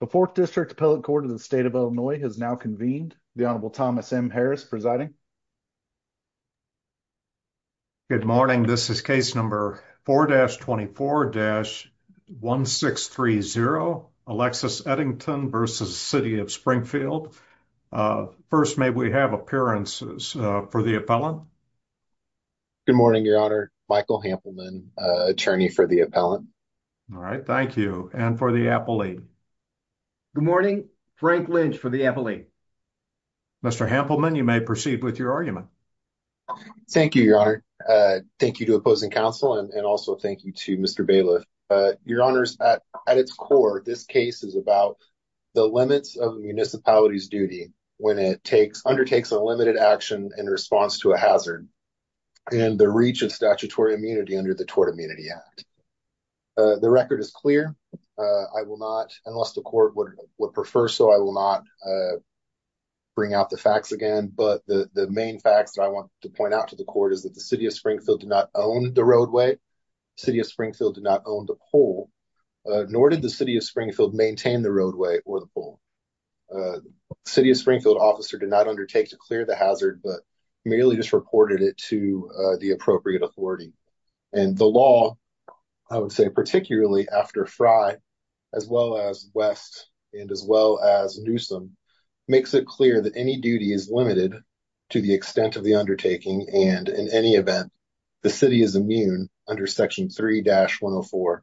The 4th District Appellate Court of the State of Illinois has now convened. The Honorable Thomas M. Harris presiding. Good morning, this is case number 4-24-1630, Alexis Eddington v. City of Springfield. First, may we have appearances for the appellant? Good morning, your honor. Michael Hampleman, attorney for the appellant. All right, thank you. And for the appellate? Good morning, Frank Lynch for the appellate. Mr. Hampleman, you may proceed with your argument. Thank you, your honor. Thank you to opposing counsel and also thank you to Mr. Bailiff. Your honors, at its core, this case is about the limits of a municipality's duty when it undertakes a limited action in response to a hazard and the reach of statutory immunity under the Tort Immunity Act. The record is clear. I will not, unless the court would prefer so, I will not bring out the facts again, but the main facts that I want to point out to the court is that the City of Springfield did not own the roadway, the City of Springfield did not own the pole, nor did the City of Springfield maintain the roadway or the pole. The City of Springfield officer did not undertake to clear the hazard, but merely just reported it to the appropriate authority. And the law, I would say particularly after Frye, as well as West, and as well as Newsom, makes it clear that any duty is limited to the extent of the undertaking and, in any event, the City is immune under Section 3-104 for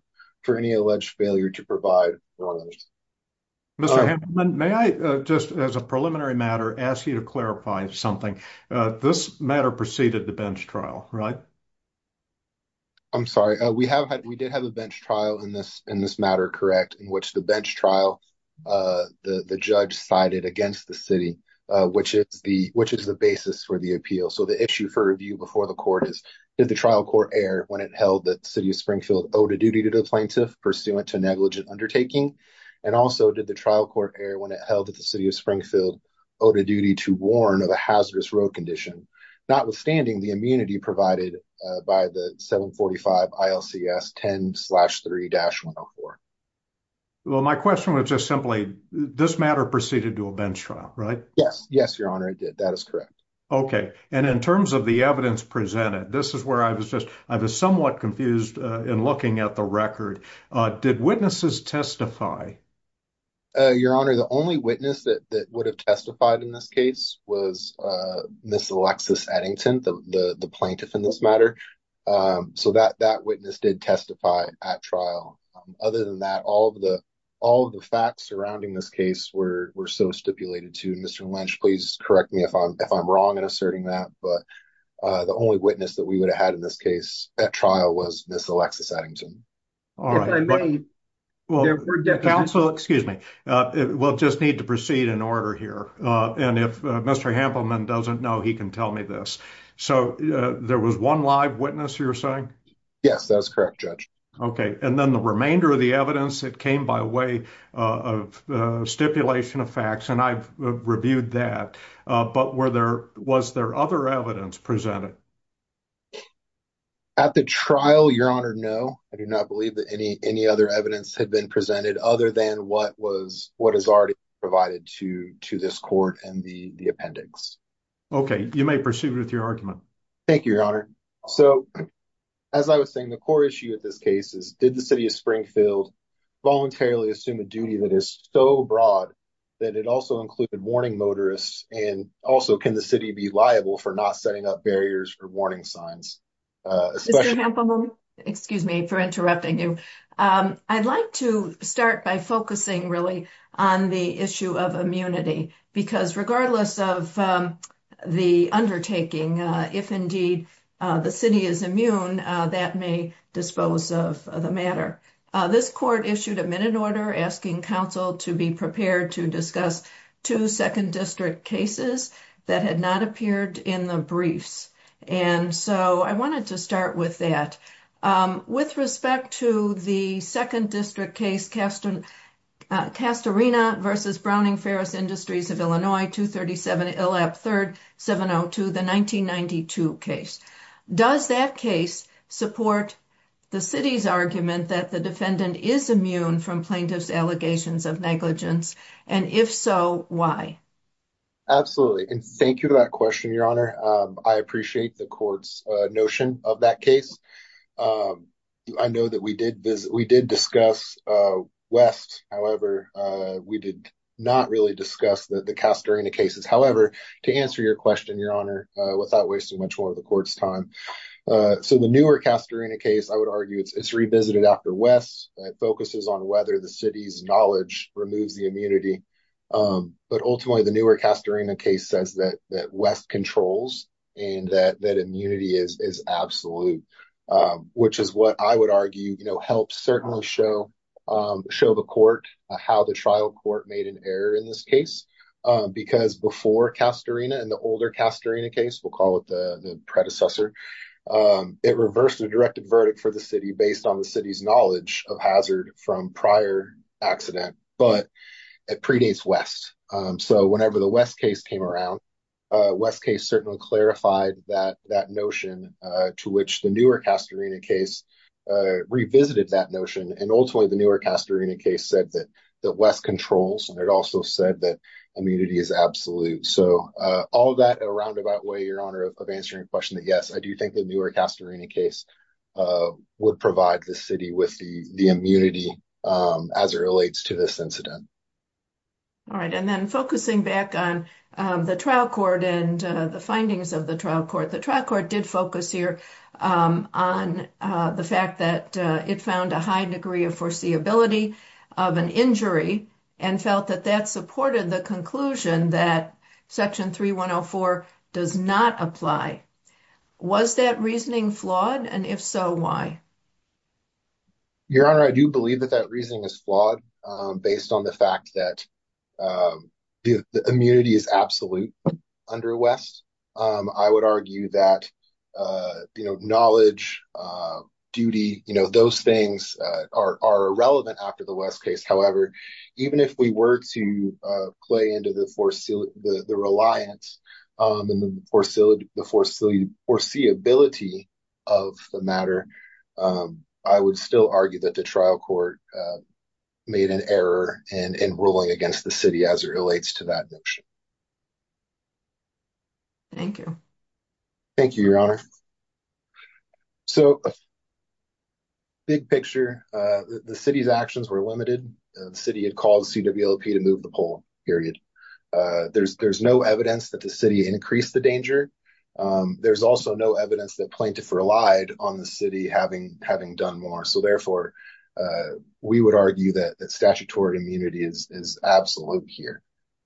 any alleged failure to provide roadways. Mr. Hamilton, may I, just as a preliminary matter, ask you to clarify something? This matter preceded the bench trial, right? I'm sorry. We did have a bench trial in this matter, correct, in which the bench trial, the judge cited against the City, which is the basis for the appeal. So the issue for review before the court is, did the trial court err when it held that the City of Springfield owed a duty to the plaintiff pursuant to negligent undertaking? And also, did the trial court err when it held that the City of Springfield owed a duty to warn of a hazardous road condition, notwithstanding the immunity provided by the 745 ILCS 10-3-104? Well, my question was just simply, this matter proceeded to a bench trial, right? Yes. Yes, Your Honor, it did. That is correct. Okay. And in terms of the evidence presented, this is where I was somewhat confused in looking at the record. Did witnesses testify? Your Honor, the only witness that would have testified in this case was Ms. Alexis Eddington, the plaintiff in this matter. So that witness did testify at trial. Other than that, all of the facts surrounding this case were so stipulated, too. Mr. Lynch, please correct me if I'm wrong in asserting that, but the only witness that we would have had in this case at trial was Ms. Alexis Eddington. All right. If I may... Counsel, excuse me. We'll just need to proceed in order here. And if Mr. Hampleman doesn't know, he can tell me this. So there was one live witness, you're saying? Yes, that is correct, Judge. Okay. And then the remainder of the evidence, it came by way of stipulation of facts. And I've reviewed that. But was there other evidence presented? At the trial, Your Honor, no. I do not believe that any other evidence had been presented other than what is already provided to this court and the appendix. Okay. You may proceed with your argument. Thank you, Your Honor. So, as I was saying, the core issue with this case is did the City of Springfield voluntarily assume a duty that is so broad that it also included warning motorists? And also, can the City be liable for not setting up barriers for warning signs? Mr. Hampleman? Excuse me for interrupting you. I'd like to start by focusing really on the issue of immunity. Because regardless of the undertaking, if indeed the City is immune, that may dispose of the matter. This court issued a minute order asking counsel to be prepared to discuss two 2nd District cases that had not appeared in the briefs. And so, I wanted to start with that. With respect to the 2nd District case, Castorina v. Browning Ferris Industries of Illinois, 237 Illap 3rd 702, the 1992 case. Does that case support the City's argument that the defendant is immune from plaintiff's allegations of negligence? And if so, why? Absolutely. And thank you for that question, Your Honor. I appreciate the court's notion of that case. I know that we did discuss West. However, we did not really discuss the Castorina cases. However, to answer your question, Your Honor, without wasting much more of the court's time. So, the newer Castorina case, I would argue, it's revisited after West. It focuses on whether the City's knowledge removes the immunity. But ultimately, the newer Castorina case says that West controls and that immunity is absolute. Which is what I would argue helps certainly show the court how the trial court made an error in this case. Because before Castorina and the older Castorina case, we'll call it the predecessor. It reversed the directed verdict for the City based on the City's knowledge of hazard from prior accident. But it predates West. So, whenever the West case came around, West case certainly clarified that notion to which the newer Castorina case revisited that notion. And ultimately, the newer Castorina case said that West controls and it also said that immunity is absolute. So, all that in a roundabout way, Your Honor, of answering your question. Yes, I do think the newer Castorina case would provide the City with the immunity as it relates to this incident. Alright, and then focusing back on the trial court and the findings of the trial court. The trial court did focus here on the fact that it found a high degree of foreseeability of an injury and felt that that supported the conclusion that Section 3104 does not apply. Was that reasoning flawed? And if so, why? Your Honor, I do believe that that reasoning is flawed based on the fact that the immunity is absolute under West. I would argue that knowledge, duty, those things are irrelevant after the West case. However, even if we were to play into the reliance and the foreseeability of the matter, I would still argue that the trial court made an error in ruling against the City as it relates to that notion. Thank you. Thank you, Your Honor. So, big picture, the City's actions were limited. The City had called CWLP to move the poll, period. There's no evidence that the City increased the danger. There's also no evidence that plaintiffs relied on the City having done more. So, therefore, we would argue that statutory immunity is absolute here.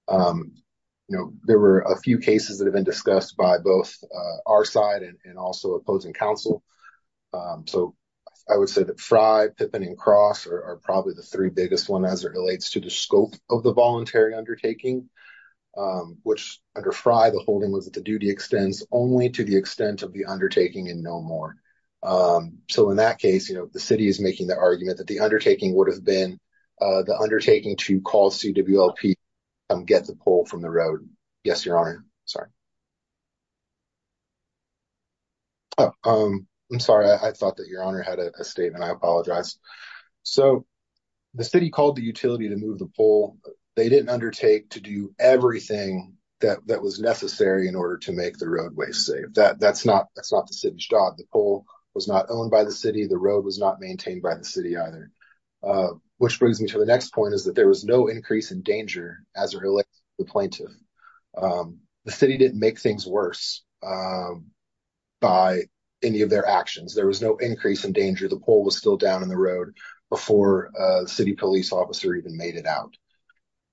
There were a few cases that have been discussed by both our side and also opposing counsel. So, I would say that Frye, Pippin, and Cross are probably the three biggest ones as it relates to the scope of the voluntary undertaking, which under Frye, the holding was that the duty extends only to the extent of the undertaking and no more. So, in that case, the City is making the argument that the undertaking would have been the undertaking to call CWLP and get the poll from the road. Yes, Your Honor. Sorry. I'm sorry. I thought that Your Honor had a statement. I apologize. So, the City called the utility to move the poll. They didn't undertake to do everything that was necessary in order to make the roadway safe. That's not the City's job. The poll was not owned by the City. The road was not maintained by the City either. Which brings me to the next point is that there was no increase in danger as it relates to the plaintiff. The City didn't make things worse by any of their actions. There was no increase in danger. The poll was still down in the road before the City police officer even made it out.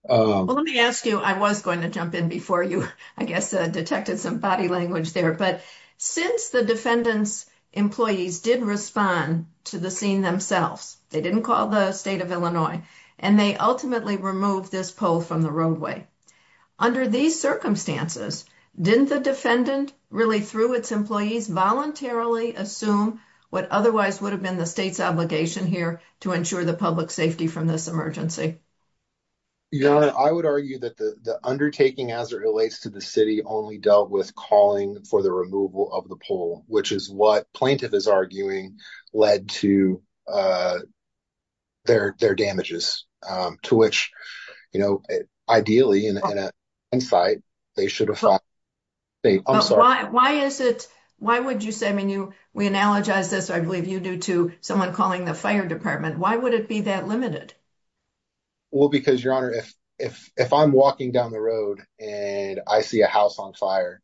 Well, let me ask you, I was going to jump in before you, I guess, detected some body language there, but since the defendant's employees did respond to the scene themselves, they didn't call the State of Illinois, and they ultimately removed this poll from the roadway. Under these circumstances, didn't the defendant, really through its employees, voluntarily assume what otherwise would have been the State's obligation here to ensure the public's safety from this emergency? Your Honor, I would argue that the undertaking as it relates to the City only dealt with calling for the removal of the poll, which is what plaintiff is arguing led to their damages, to which, you know, ideally, in hindsight, they should have filed. I'm sorry. Why is it, why would you say, I mean, we analogize this, I believe, you do, to someone calling the Fire Department. Why would it be that limited? Well, because, Your Honor, if I'm walking down the road and I see a house on fire,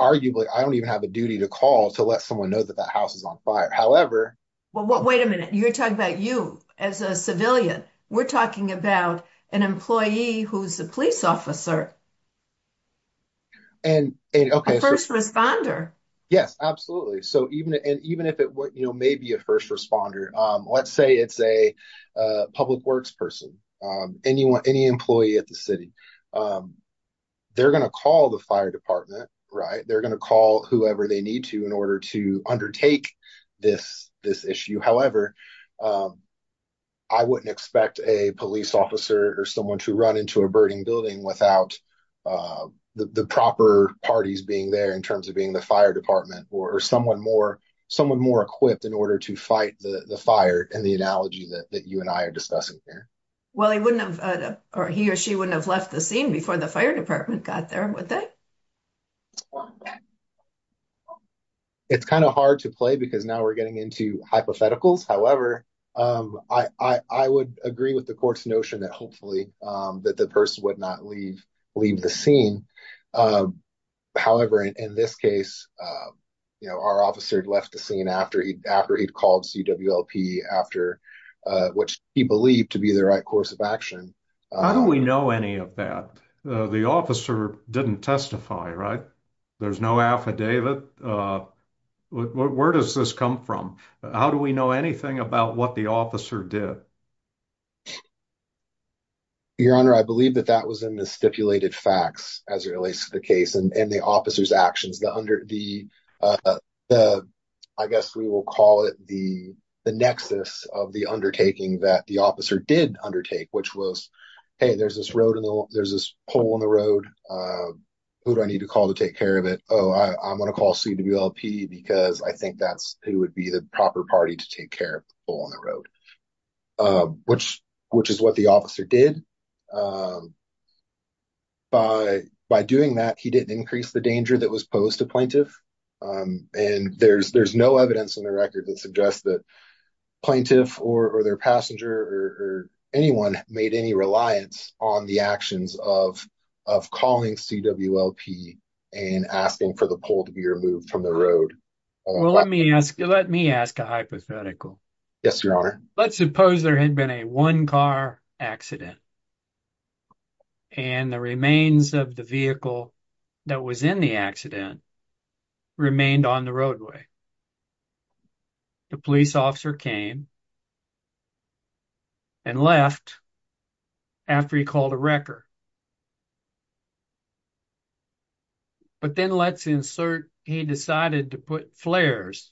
arguably, I don't even have a duty to call to let someone know that that house is on fire. However... Well, wait a minute. You're talking about you as a civilian. We're talking about an employee who's a police officer. And, okay. A first responder. Yes, absolutely. So, even if it, you know, may be a first responder, let's say it's a public works person, any employee at the City. They're going to call the Fire Department, right? They're going to call whoever they need to in order to undertake this issue. However, I wouldn't expect a police officer or someone to run into a burning building without the proper parties being there in terms of being the Fire Department or someone more, someone more equipped in order to fight the fire and the analogy that you and I are discussing here. Well, he wouldn't have, or he or she wouldn't have left the scene before the Fire Department got there, would they? It's kind of hard to play because now we're getting into hypotheticals. However, I would agree with the court's notion that hopefully that the person would not leave the scene. However, in this case, you know, our officer left the scene after he'd called CWLP after what he believed to be the right course of action. How do we know any of that? The officer didn't testify, right? There's no affidavit. Where does this come from? How do we know anything about what the officer did? Your Honor, I believe that that was in the stipulated facts as it relates to the case and the officer's actions. I guess we will call it the nexus of the undertaking that the officer did undertake, which was, hey, there's this pole in the road. Who do I need to call to take care of it? Oh, I'm going to call CWLP because I think that's who would be the proper party to take care of the pole on the road, which is what the officer did. By doing that, he didn't increase the danger that was posed to plaintiff. And there's no evidence in the record that suggests that plaintiff or their passenger or anyone made any reliance on the actions of calling CWLP and asking for the pole to be removed from the road. Well, let me ask a hypothetical. Yes, Your Honor. Let's suppose there had been a one-car accident and the remains of the vehicle that was in the accident remained on the roadway. The police officer came and left after he called a wrecker. But then let's insert he decided to put flares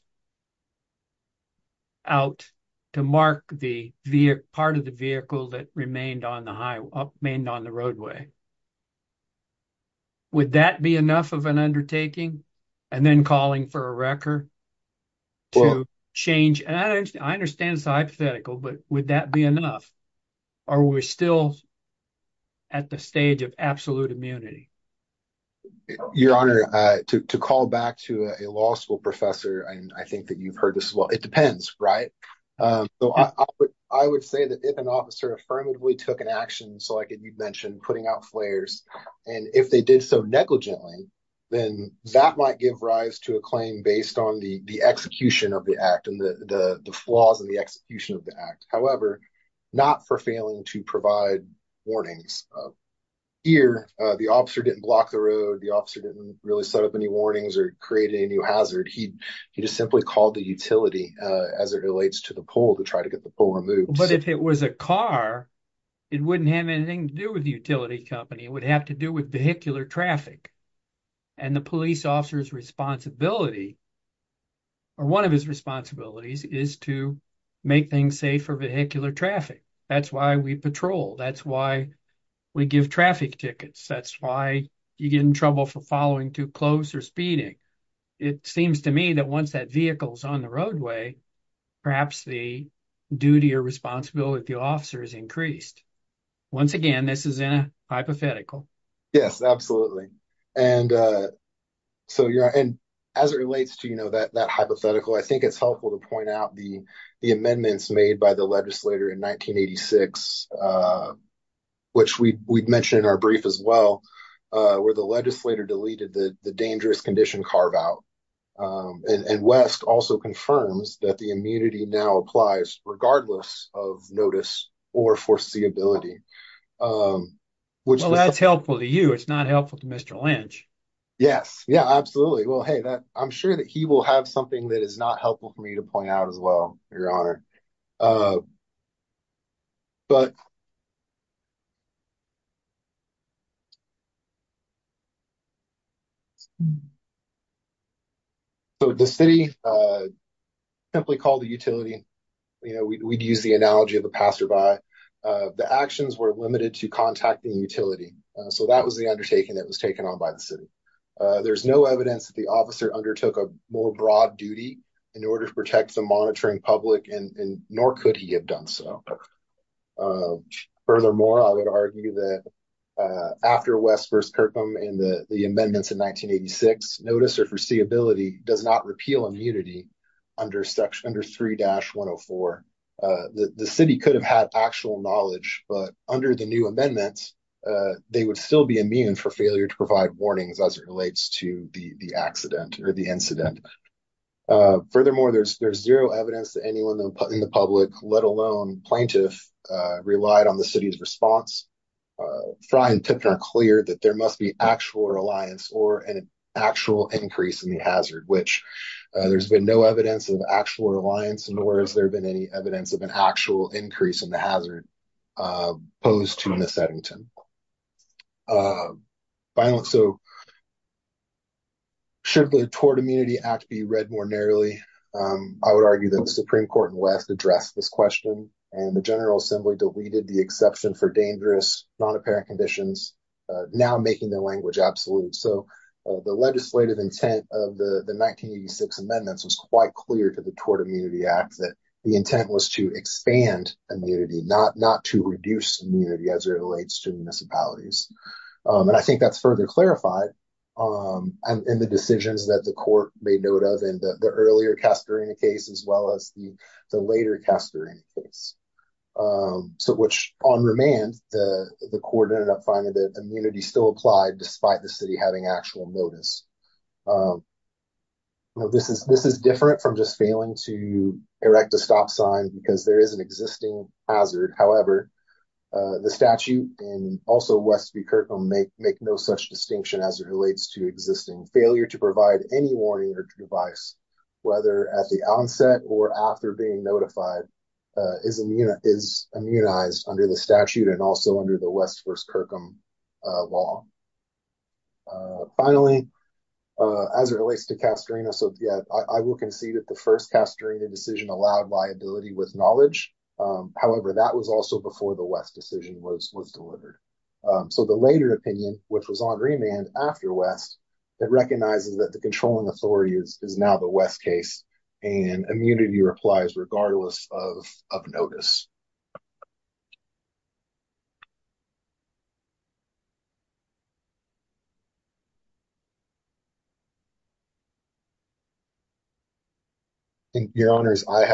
out to mark the part of the vehicle that remained on the roadway. Would that be enough of an undertaking? And then calling for a wrecker to change? I understand it's hypothetical, but would that be enough? Are we still at the stage of absolute immunity? Your Honor, to call back to a law school professor, I think that you've heard this as well. It depends, right? I would say that if an officer affirmatively took an action, so like you mentioned, putting out flares, and if they did so negligently, then that might give rise to a claim based on the execution of the act and the flaws in the execution of the act. However, not for failing to provide warnings. Here, the officer didn't block the road. The officer didn't really set up any warnings or create any new hazard. He just simply called the utility as it relates to the pole to try to get the pole removed. But if it was a car, it wouldn't have anything to do with the utility company. It would have to do with vehicular traffic. And the police officer's responsibility, or one of his responsibilities, is to make things safe for vehicular traffic. That's why we patrol. That's why we give traffic tickets. That's why you get in trouble for following too close or speeding. It seems to me that once that vehicle is on the roadway, perhaps the duty or responsibility of the officer is increased. Once again, this is in a hypothetical. Yes, absolutely. As it relates to that hypothetical, I think it's helpful to point out the amendments made by the legislature in 1986, which we mentioned in our brief as well, where the legislator deleted the dangerous condition carve-out. And West also confirms that the immunity now applies regardless of notice or foreseeability. Well, that's helpful to you. It's not helpful to Mr. Lynch. Yes, absolutely. I'm sure that he will have something that is not helpful for me to point out as well, Your Honor. But... So the city simply called the utility. We'd use the analogy of a passerby. The actions were limited to contacting the utility. So that was the undertaking that was taken on by the city. There's no evidence that the officer undertook a more broad duty in order to protect the monitoring public, and nor could he have done so. Furthermore, I would argue that after West v. Kirkham and the amendments in 1986, notice or foreseeability does not repeal immunity under 3-104. The city could have had actual knowledge, but under the new amendments, they would still be immune for failure to provide warnings as it relates to the incident. Furthermore, there's zero evidence that anyone in the public, let alone plaintiff, relied on the city's response. Frye and Tipton are clear that there must be actual reliance or an actual increase in the hazard, which there's been no evidence of actual reliance, nor has there been any evidence of an actual increase in the hazard posed to Miss Eddington. Should the Tort Immunity Act be read more narrowly? I would argue that the Supreme Court in West addressed this question, and the General Assembly deleted the exception for dangerous, non-apparent conditions, now making the language absolute. The legislative intent of the 1986 amendments was quite clear to the Tort Immunity Act that the intent was to expand immunity, not to reduce immunity as it relates to municipalities. I think that's further clarified in the decisions that the Court made note of in the earlier Castorina case as well as the later Castorina case. On remand, the Court ended up finding that immunity still applied despite the city having actual notice. This is different from just failing to erect a stop sign because there is an existing hazard. However, the statute and also West v. Kirkham make no such distinction as it relates to existing failure to provide any warning or device, whether at the onset or after being notified is immunized under the statute and also under the West v. Kirkham law. Finally, as it relates to Castorina, I will concede that the first Castorina decision allowed liability with knowledge. However, that was also before the West decision was delivered. The later opinion, which was on remand after West, recognizes that the controlling authority is now the West case and immunity applies regardless of notice. Your Honor, I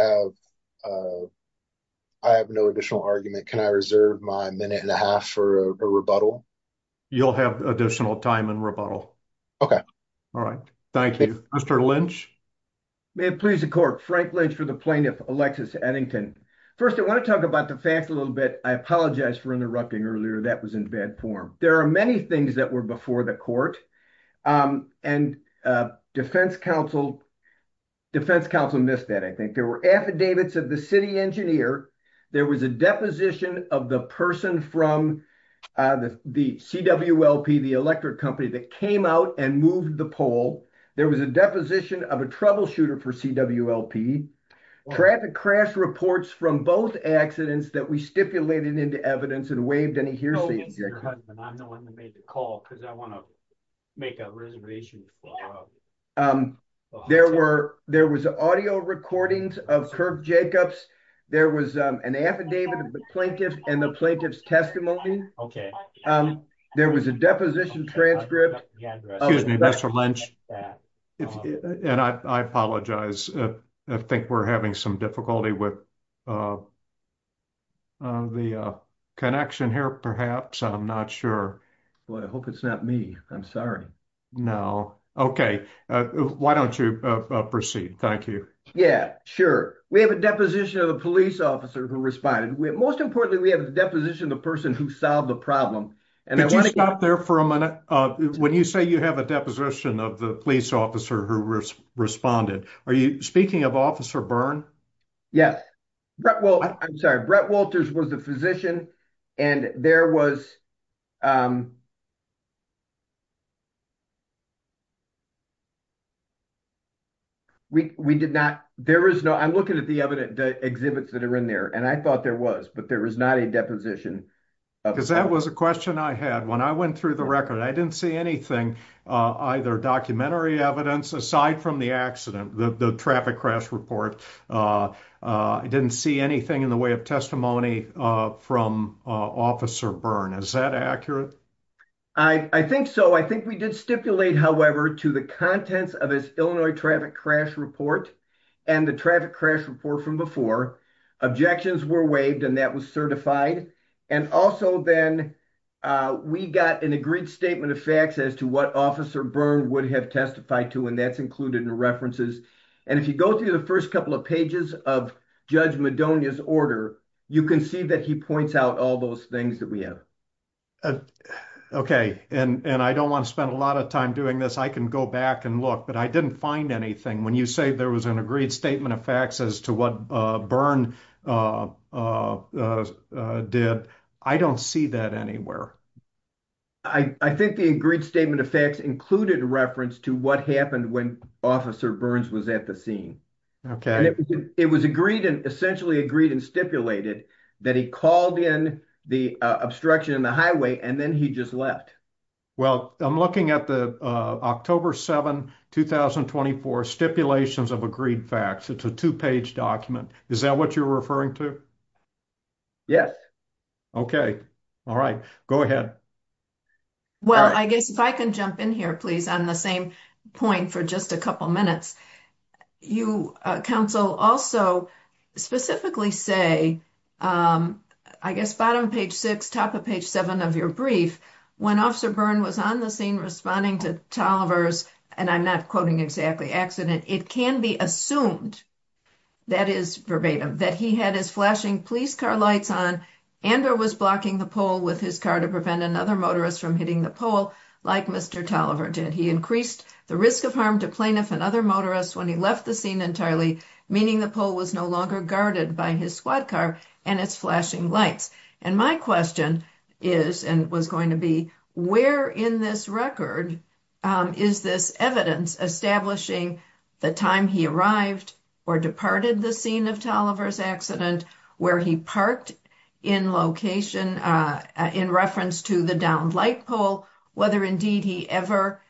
have no additional argument. Can I reserve my minute and a half for a rebuttal? You'll have additional time in rebuttal. May it please the Court. Frank Lynch for the Plaintiff, Alexis Eddington. First, I want to talk about the facts a little bit. I apologize for interrupting earlier. That was in bad form. There are many things that were before the Court. Defense counsel missed that. There were affidavits of the city engineer. There was a deposition of the person from the CWLP, the electric company that came out and moved the pole. There was a deposition of a troubleshooter for CWLP. Traffic crash reports from both accidents that we stipulated into evidence and waived any hearsay. I'm the one that made the call. I want to make a reservation. There were audio recordings of Kirk Jacobs. There was an affidavit of the Plaintiff and the Plaintiff's testimony. There was a deposition transcript. Excuse me, Mr. Lynch. I apologize. I think we're having some difficulty with the connection here perhaps. I'm not sure. I hope it's not me. I'm sorry. Why don't you proceed? Sure. We have a deposition of the police officer who responded. Most importantly, we have a deposition of the person who solved the problem. Could you stop there for a minute? When you say you have a deposition of the police officer who responded, are you speaking of Officer Byrne? Yes. Brett Walters was the physician and there was... I'm looking at the exhibits that are in there and I thought there was, but there was not a deposition. That was a question I had when I went through the record. I didn't see anything, either documentary evidence aside from the accident, the traffic crash report. I didn't see anything in the way of testimony from Officer Byrne. Is that accurate? I think so. I think we did stipulate, however, to the contents of his Illinois traffic crash report and the traffic crash report from before. Objections were waived and that was certified. Also, we got an agreed statement of facts as to what Officer Byrne would have testified to and that's included in the references. If you go through the first couple of pages of Judge Madonia's order, you can see that he points out all those things that we have. I don't want to spend a lot of time doing this. I can go back and look, but I didn't find anything. When you say there was an agreed statement of facts as to what Byrne did, I don't see that anywhere. I think the agreed statement of facts included reference to what happened when Officer Byrne was at the scene. It was essentially agreed and stipulated that he called in the obstruction in the highway and then he just left. I'm looking at the October 7, 2024 stipulations of agreed facts. It's a two-page document. Is that what you're referring to? Yes. If I can jump in here on the same point for just a couple of minutes. You, counsel, also specifically say bottom of page 6, top of page 7 of your brief when Officer Byrne was on the scene responding to Tolliver's, and I'm not quoting exactly, accident, it can be assumed that he had his flashing police car lights on and or was blocking the pole with his car to prevent another motorist from hitting the pole like Mr. Tolliver did. He increased the risk of harm to plaintiff and other motorists when he left the scene entirely, meaning the pole was no longer guarded by his squad car and its flashing lights. My question is and was going to be where in this record is this evidence establishing the time he arrived or departed the scene of Tolliver's accident where he parked in location in reference to the downed light pole whether indeed he ever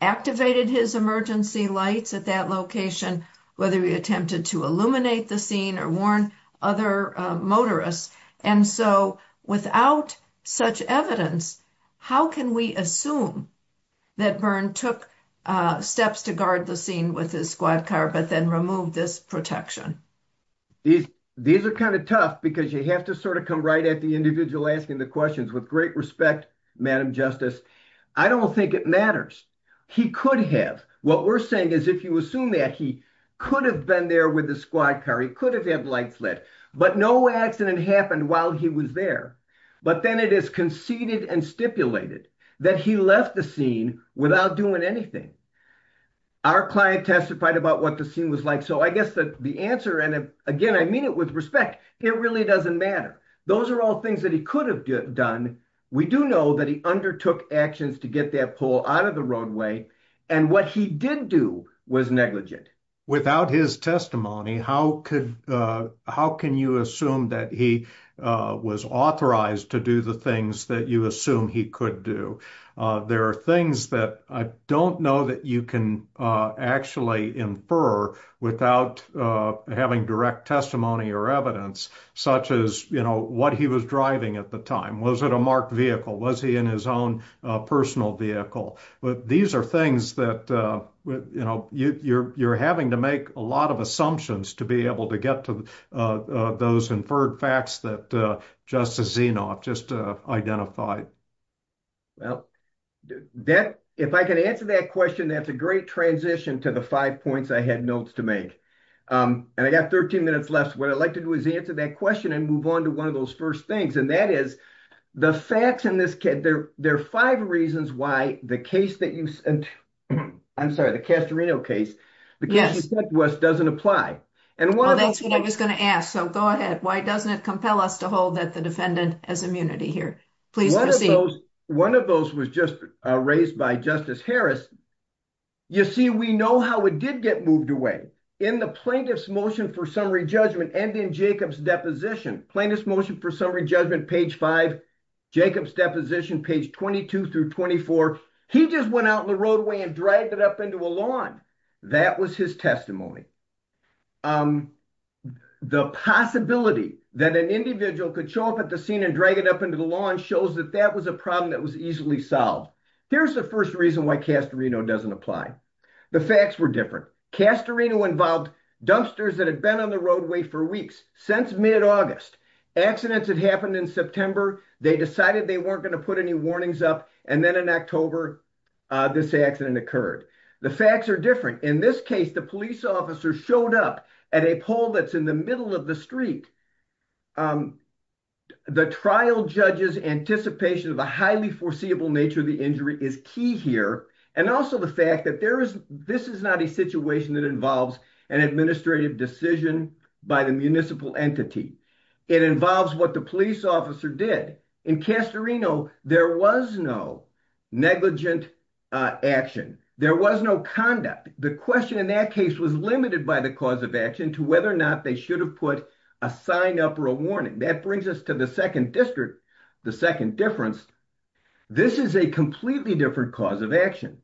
activated his emergency lights at that location whether he attempted to illuminate the scene or warn other motorists and so without such evidence how can we assume that Byrne took steps to guard the scene with his squad car but then removed this protection? These are kind of tough because you have to sort of come right at the individual asking the questions. With great respect Madam Justice, I don't think it matters. He could have. What we're saying is if you assume that he could have been there with the squad car he could have had lights lit but no accident happened while he was there but then it is conceded and stipulated that he left the scene without doing anything. Our client testified about what the scene was like so I guess the answer and again I mean it with respect it really doesn't matter. Those are all things that he could have done we do know that he undertook actions to get that pole out of the roadway and what he did do was negligent. Without his testimony how can you assume that he was authorized to do the things that you assume he could do? There are things that I don't know that you can actually infer without having direct testimony or evidence such as what he was driving at the time was it a marked vehicle, was he in his own personal vehicle? These are things that you're having to make a lot of assumptions to be able to get to those inferred facts that Justice Zinoff just identified. If I can answer that question that's a great transition to the five points I had notes to make and I got 13 minutes left what I'd like to do is answer that question and move on to one of those first things and that is there are five reasons why the case that you said the Castorino case doesn't apply and one of those why doesn't it compel us to hold the defendant as immunity here? One of those was just raised by Justice Harris you see we know how it did get moved away in the plaintiff's motion for summary judgment and in Jacob's deposition plaintiff's motion for summary judgment page 5 Jacob's deposition page 22-24 he just went out in the roadway and dragged it up into a lawn that was his testimony the possibility that an individual could show up at the scene and drag it up into the lawn shows that that was a problem that was easily solved here's the first reason why Castorino doesn't apply the facts were different Castorino involved dumpsters that had been on the roadway for weeks since mid-August accidents had happened in September they decided they weren't going to put any warnings up and then in October this accident occurred the facts are different in this case the police officer showed up at a pole that's in the middle of the street the trial judge's anticipation of a highly foreseeable nature of the injury is key here and also the fact that this is not a situation that involves an administrative decision by the municipal entity it involves what the police officer did in Castorino there was no negligent action there was no conduct the question in that case was limited by the cause of action to whether or not they should have put a sign up or a warning that brings us to the second difference this is a completely different cause of action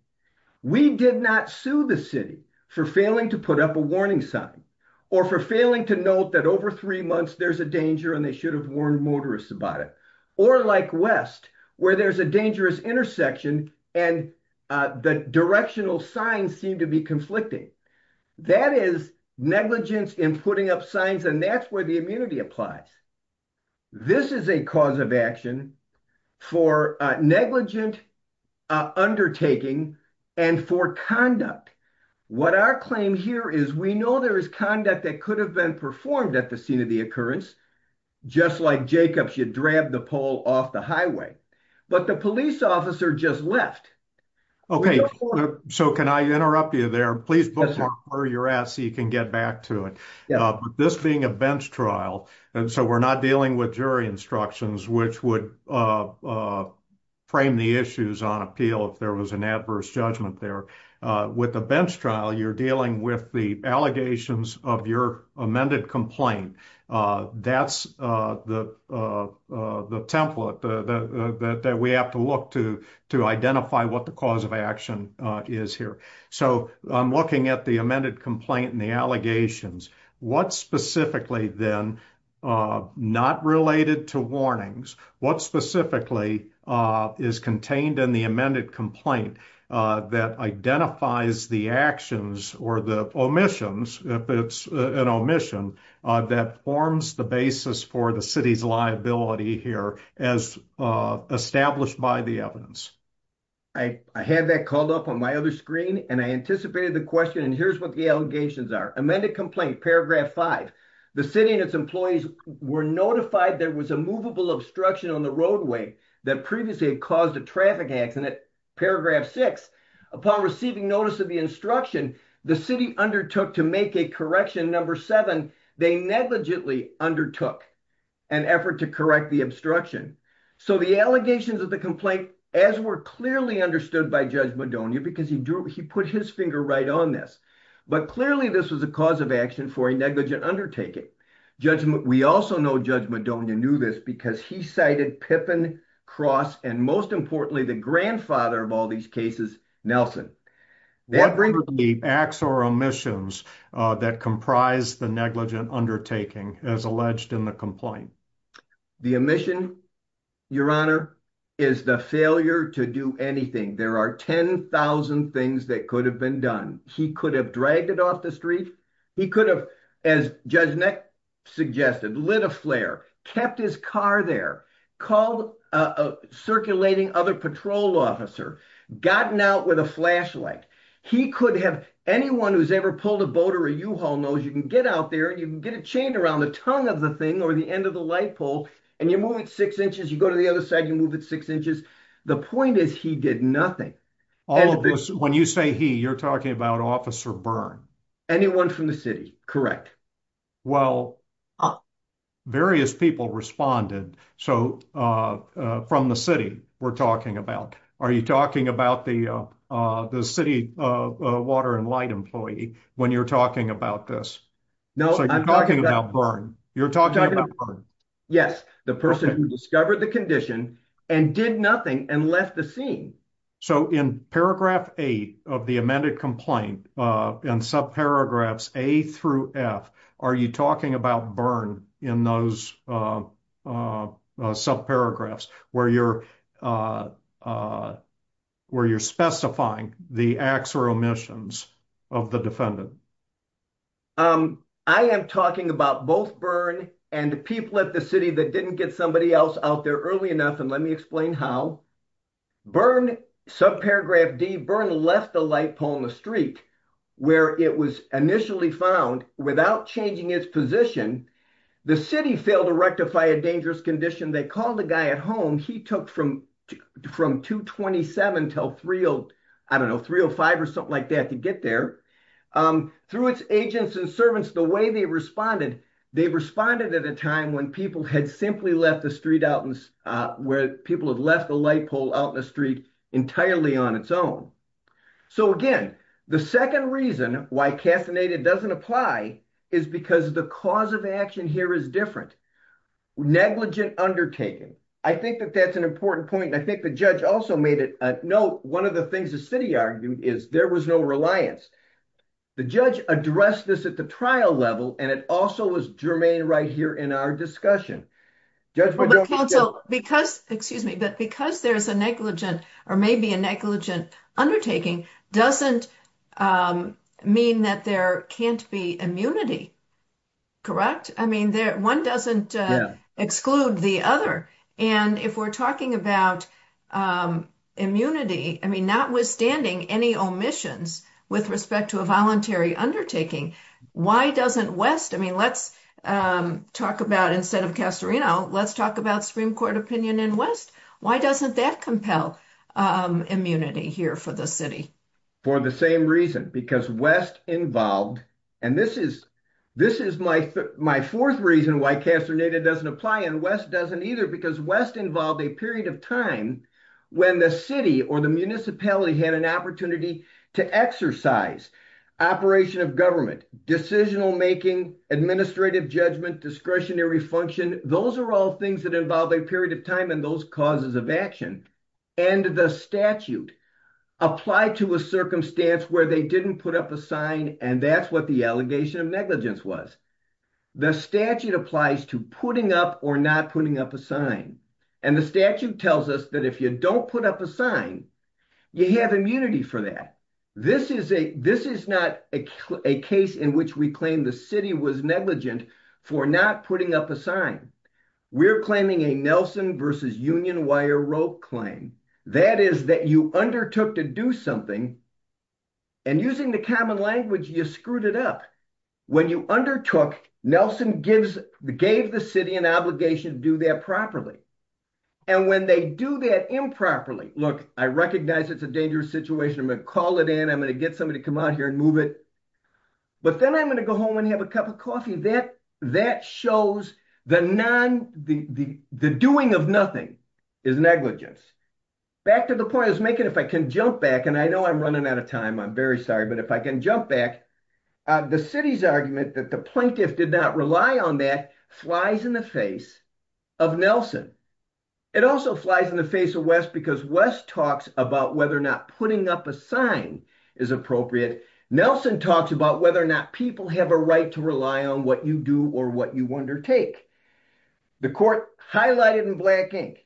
we did not sue the city for failing to put up a warning sign or for failing to note that over three months there's a danger and they should have warned motorists about it or like West where there's a dangerous intersection and the directional signs seem to be conflicting that is negligence in putting up signs and that's where the immunity applies this is a cause of action for negligent undertaking and for conduct what our claim here is we know there is conduct that could have been performed at the scene of the occurrence just like Jacob should grab the pole off the highway but the police officer just left so can I interrupt you there please bookmark where you're at so you can get back to it this being a bench trial so we're not dealing with jury instructions which would frame the issues on appeal if there was an adverse judgment with a bench trial you're dealing with the allegations of your amended complaint that's the template that we have to look to to identify what the cause of action is here so I'm looking at the amended complaint and the allegations what specifically then not related to warnings what specifically is contained in the amended complaint that identifies the actions or the omissions if it's an omission that forms the basis for the city's liability as established by the evidence I had that called up on my other screen and I anticipated the question and here's what the allegations are amended complaint paragraph 5 the city and its employees were notified there was a movable obstruction on the roadway that previously caused a traffic accident paragraph 6 upon receiving notice of the instruction the city undertook to make a correction and number 7 they negligently undertook an effort to correct the obstruction so the allegations of the complaint as were clearly understood by Judge Madonia because he put his finger right on this but clearly this was a cause of action for a negligent undertaking we also know Judge Madonia knew this because he cited Pippin, Cross, and most importantly the grandfather of all these cases, Nelson what were the acts or omissions that comprised the negligent undertaking as alleged in the complaint the omission, your honor, is the failure to do anything there are 10,000 things that could have been done he could have dragged it off the street he could have, as Judge Neck suggested lit a flare, kept his car there called a circulating other patrol officer gotten out with a flashlight he could have, anyone who's ever pulled a boat or a U-Haul knows you can get out there you can get a chain around the tongue of the thing or the end of the light pole, and you move it 6 inches you go to the other side, you move it 6 inches the point is he did nothing when you say he, you're talking about Officer Byrne anyone from the city, correct well, various people responded so, from the city, we're talking about are you talking about the city water and light employee when you're talking about this you're talking about Byrne yes, the person who discovered the condition and did nothing and left the scene so, in paragraph 8 of the amended complaint in subparagraphs A through F are you talking about Byrne in those subparagraphs where you're where you're specifying the acts or omissions of the defendant I am talking about both Byrne and people at the city that didn't get somebody else out there early enough, and let me explain how Byrne, subparagraph D, Byrne left the light pole on the street where it was initially found without changing its position the city failed to rectify a dangerous condition they called a guy at home he took from 227 to 305 or something like that to get there through its agents and servants, the way they responded they responded at a time when people had simply left the street out, where people had left the light pole out in the street entirely on its own so again, the second reason why casinated doesn't apply is because the cause of action here is different negligent undertaking, I think that's an important point and I think the judge also made it a note one of the things the city argued is there was no reliance the judge addressed this at the trial level and it also was germane right here in our discussion but counsel, because there's a negligent or maybe a negligent undertaking, doesn't mean that there can't be immunity correct? I mean, one doesn't exclude the other, and if we're talking about immunity notwithstanding any omissions with respect to a voluntary undertaking why doesn't West, let's talk about instead of Castorino, let's talk about Supreme Court opinion in West why doesn't that compel immunity here for the city? For the same reason, because West involved and this is my fourth reason why casinated doesn't apply and West doesn't either because West involved a period of time when the city or the municipality had an opportunity to exercise operation of government decisional making, administrative judgment discretionary function, those are all things that involve a period of time in those causes of action and the statute applied to a circumstance where they didn't put up a sign and that's what the allegation of negligence was the statute applies to putting up or not putting up a sign and the statute tells us that if you don't put up a sign, you have immunity for that. This is not a case in which we claim the city was negligent for not putting up a sign we're claiming a Nelson versus Union wire rope claim. That is that you undertook to do something and using the common language, you screwed it up. When you undertook Nelson gave the city an obligation to do that properly and when they do that improperly, look, I recognize it's a dangerous situation, I'm going to call it in, I'm going to get somebody to come out here and move it but then I'm going to go home and have a cup of coffee that shows the doing of nothing is negligence back to the point I was making, if I can jump back and I know I'm running out of time, I'm very sorry, but if I can jump back the city's argument that the plaintiff did not rely on that flies in the face of Nelson. It also flies in the face of West because West talks about whether or not putting up a sign is appropriate. Nelson talks about whether or not people have a right to rely on what you do or what you undertake. The court highlighted in black ink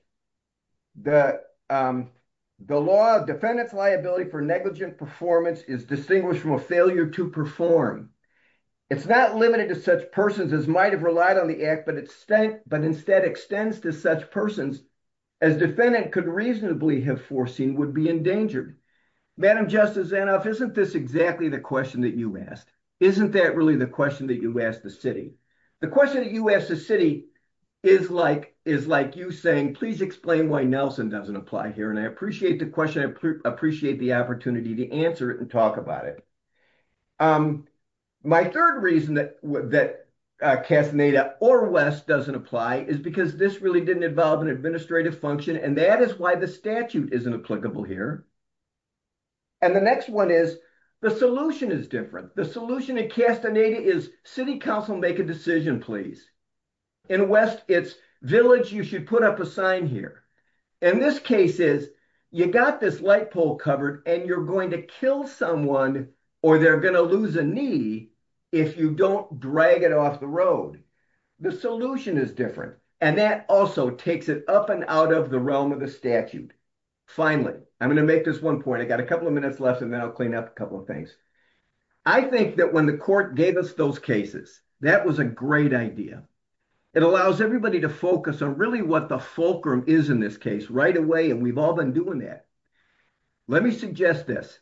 the law defendant's liability for negligent performance is distinguished from a failure to perform. It's not limited to such persons as might have relied on the act but instead extends to such persons as defendant could reasonably have foreseen would be endangered. Madam Justice Zanoff, isn't this exactly the question that you asked? Isn't that really the question that you asked the city? The question that you asked the city is like you saying please explain why Nelson doesn't apply here and I appreciate the question I appreciate the opportunity to answer it and talk about it. My third reason that Castaneda or West doesn't apply is because this really didn't involve an administrative function and that is why the statute isn't applicable here and the next one is the solution is different. The solution at Castaneda is city council make a decision please. In West it's village you should put up a sign here and this case is you got this light pole covered and you're going to kill someone or they're going to lose a knee if you don't drag it off the road. The solution is different and that also takes it up and out of the realm of the statute. Finally, I'm going to make this one point. I got a couple of minutes left and then I'll clean up a couple of things. I think that when the court gave us those cases that was a great idea. It allows everybody to focus on really what the fulcrum is in this case right away and we've all been doing that. Let me suggest this.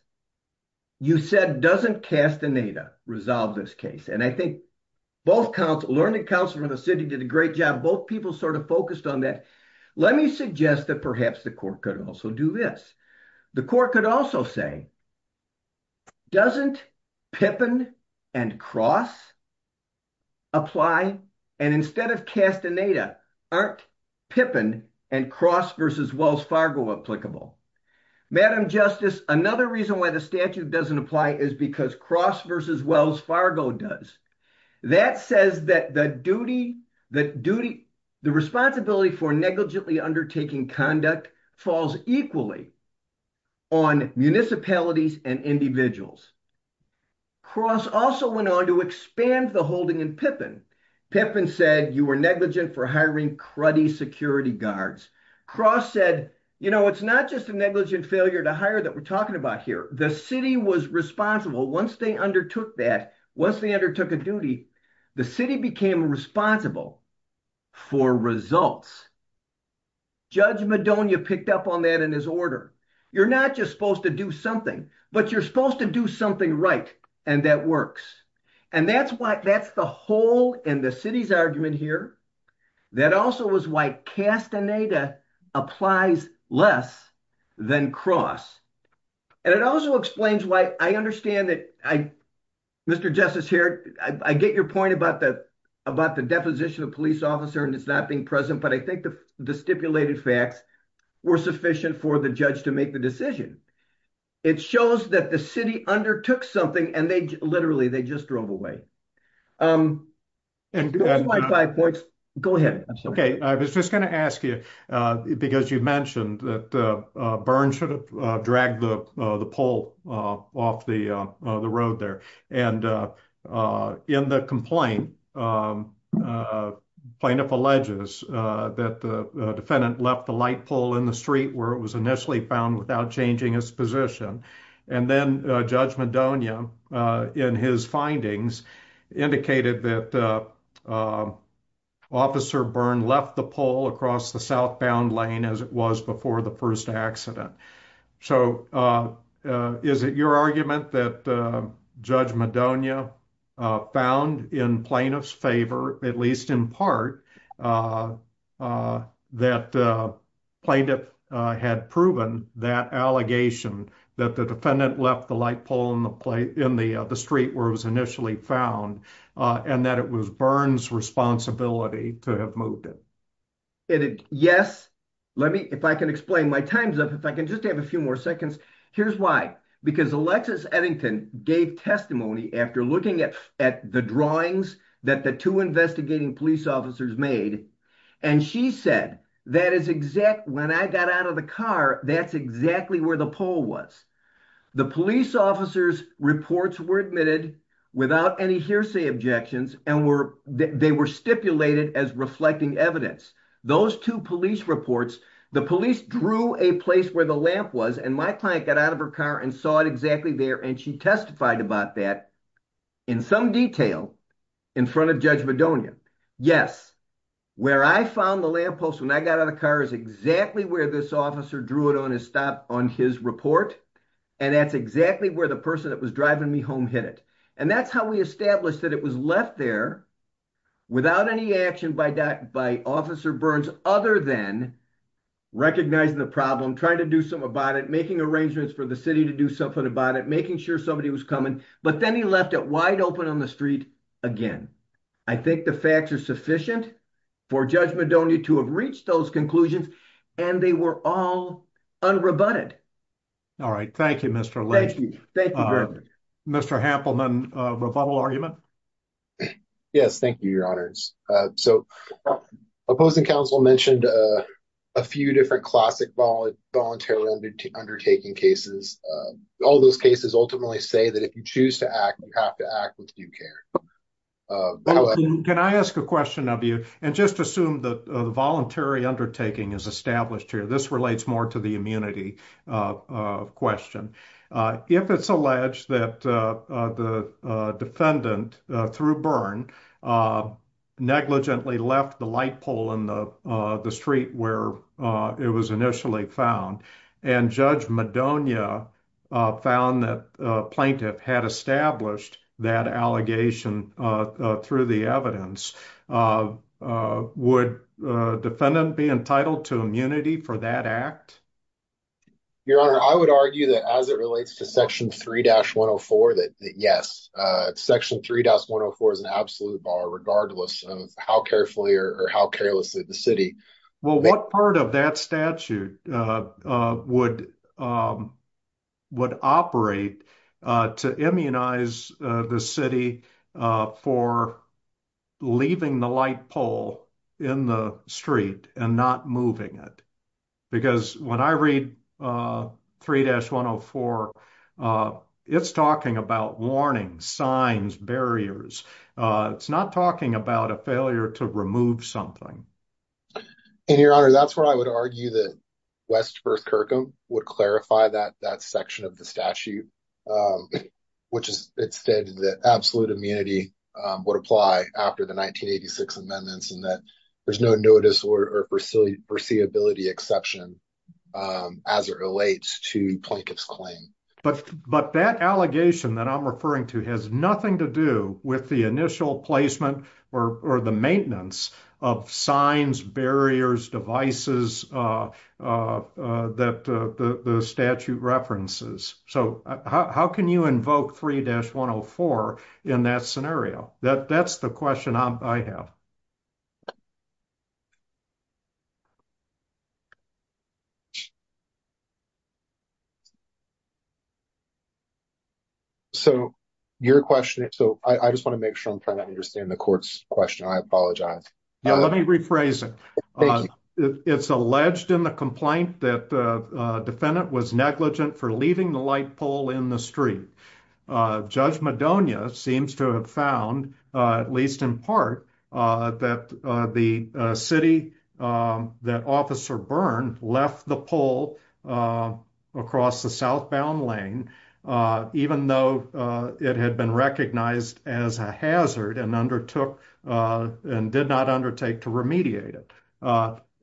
You said doesn't Castaneda resolve this case and I think learning council from the city did a great job both people sort of focused on that. Let me suggest that perhaps the court could also do this. The court could also say doesn't Pippin and Cross apply and instead of Castaneda, aren't Pippin and Cross v. Wells Fargo applicable? Madame Justice, another reason why the statute doesn't apply is because Cross v. Wells Fargo does. That says that the duty the responsibility for negligently undertaking conduct falls equally on municipalities and individuals. Cross also went on to expand the holding in Pippin. Pippin said you were negligent for hiring cruddy security guards. Cross said, you know, it's not just a negligent failure to hire that we're talking about here. The city was responsible once they undertook that. Once they undertook a duty, the city became responsible for results. Judge Madonia picked up on that in his order. You're not just supposed to do something, but you're supposed to do something right and that works. That's the whole and the city's argument here that also is why Castaneda applies less than Cross. It also explains why I understand that, Mr. Justice here I get your point about the deposition of a police officer and it's not being present, but I think the stipulated facts were sufficient for the judge to make the decision. It shows that the city undertook something and they literally just drove away. Go ahead. I was just going to ask you because you mentioned that Byrne should have dragged the pole off the road there and in the complaint plaintiff alleges that the defendant left the light pole in the street where it was initially found without changing his position and then Judge Madonia in his findings indicated that Officer Byrne left the pole across the southbound lane as it was before the first accident. So is it your argument that Judge Madonia found in plaintiff's favor at least in part that plaintiff had proven that allegation that the defendant left the light pole in the street where it was initially found and that it was Byrne's responsibility to have moved it? Yes. If I can explain my time's up. If I can just have a few more seconds. Here's why. Because Alexis Eddington gave testimony after looking at the drawings that the two investigating police officers made and she said, when I got out of the car, that's exactly where the pole was. The police officers reports were admitted without any hearsay objections and they were stipulated as reflecting evidence. Those two police reports, the police drew a place where the lamp was and my client got out of her car and saw it exactly there and she testified about that in some detail in front of Judge Madonia. Yes. Where I found the lamp post when I got out of the car is exactly where this officer drew it on his report and that's exactly where the person that was driving me home hit it. And that's how we established that it was left there without any action by Officer Burns other than recognizing the problem, trying to do something about it, making arrangements for the city to do something about it, making sure somebody was coming. But then he left it wide open on the street again. I think the facts are sufficient for Judge Madonia to have reached those conclusions and they were all unrebutted. All right. Thank you, Mr. Mr. Hampelman, a rebuttal argument? Yes. Thank you, Your Honors. So opposing counsel mentioned a few different classic voluntary undertaking cases. All those cases ultimately say that if you choose to act, you have to act with due care. Can I ask a question of you and just assume that the voluntary undertaking is established here. This relates more to the immunity question. If it's alleged that the defendant through burn negligently left the light pole in the street where it was initially found and Judge Madonia found that plaintiff had established that allegation through the evidence, would the defendant be entitled to immunity for that act? Your Honor, I would argue that as it relates to Section 3-104, that yes, Section 3-104 is an absolute bar regardless of how carefully or how carelessly the city Well, what part of that statute would operate to immunize the city for leaving the light pole in the street and not moving it? Because when I read 3-104, it's talking about warnings, signs, barriers. It's not talking about a failure to remove something. And Your Honor, that's where I would argue that West First Kirkham would clarify that that section of the statute, which is it stated that absolute immunity would apply after the 1986 amendments and that there's no notice or foreseeability exception as it relates to plaintiff's claim. But that allegation that I'm referring to has nothing to do with the initial placement or the maintenance of signs, barriers, devices that the statute references. So how can you invoke 3-104 in that scenario? That's the question I have. So your question, so I just want to make sure I'm trying to understand the court's question. I apologize. Let me rephrase it. It's alleged in the complaint that the defendant was negligent for leaving the light pole in the street. Judge Madonia seems to have found at least in part that the city that Officer Byrne left the pole across the southbound lane even though it had been recognized as a hazard and undertook and did not undertake to remediate it.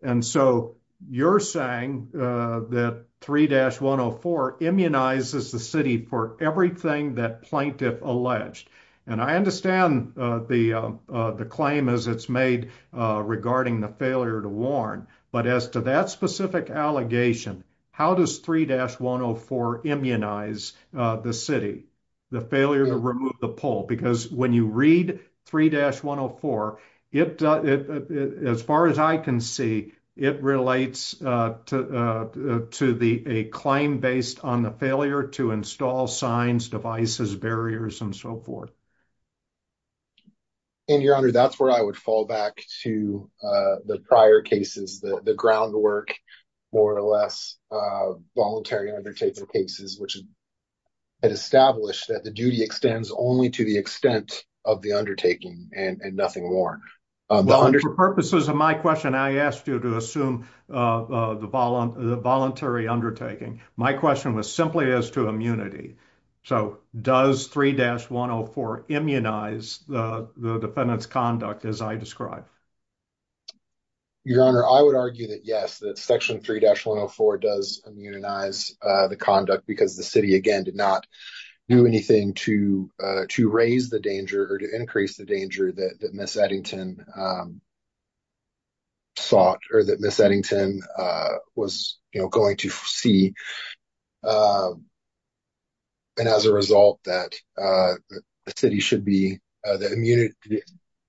And so you're saying that 3-104 immunizes the city for everything that plaintiff alleged. And I understand the claim as it's made regarding the failure to warn. But as to that specific allegation, how does 3-104 immunize the city, the failure to remove the pole? Because when you read 3-104, as far as I can see, it relates to a claim based on the failure to install signs, devices, barriers, and so forth. And, Your Honor, that's where I would fall back to the prior cases, the groundwork, more or less voluntary undertaking cases, which had established that the duty extends only to the extent of the undertaking and nothing more. For purposes of my question, I would argue that, yes, Section 3-104 does immunize the conduct because the city, again, did not do anything to raise the danger or to increase the danger that Ms. Eddington sought or that Ms. Eddington sought or that Ms. Eddington or that Ms. Eddington sought or that Ms. Eddington sought or that Ms. Eddington was, you know, going to see. And as a result, that the city should be the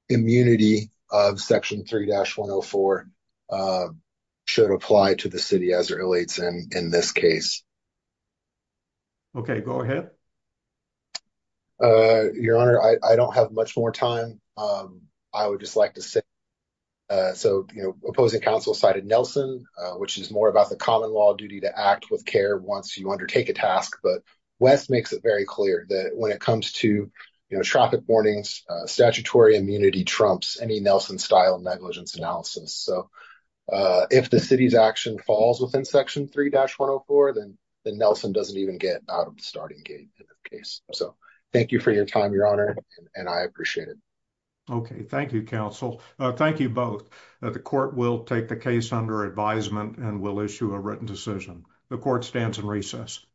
immunity of Section 3-104 should apply to the city as it relates in this case. Okay. Go ahead. Your Honor, I don't have much more time. I would just like to say, so, you know, opposing counsel cited Nelson, which is more about the common law duty to act with care once you undertake a task. But Wes makes it very clear that when it comes to, you know, traffic warnings, statutory immunity trumps any Nelson-style negligence analysis. So, if the city's action falls within Section 3-104, then Nelson doesn't even get out of the starting gate of the case. So, thank you for your time, Your Honor, and I appreciate it. Okay. Thank you, counsel. Thank you both. The court will take the case under advisement and will issue a written decision. The court stands in recess.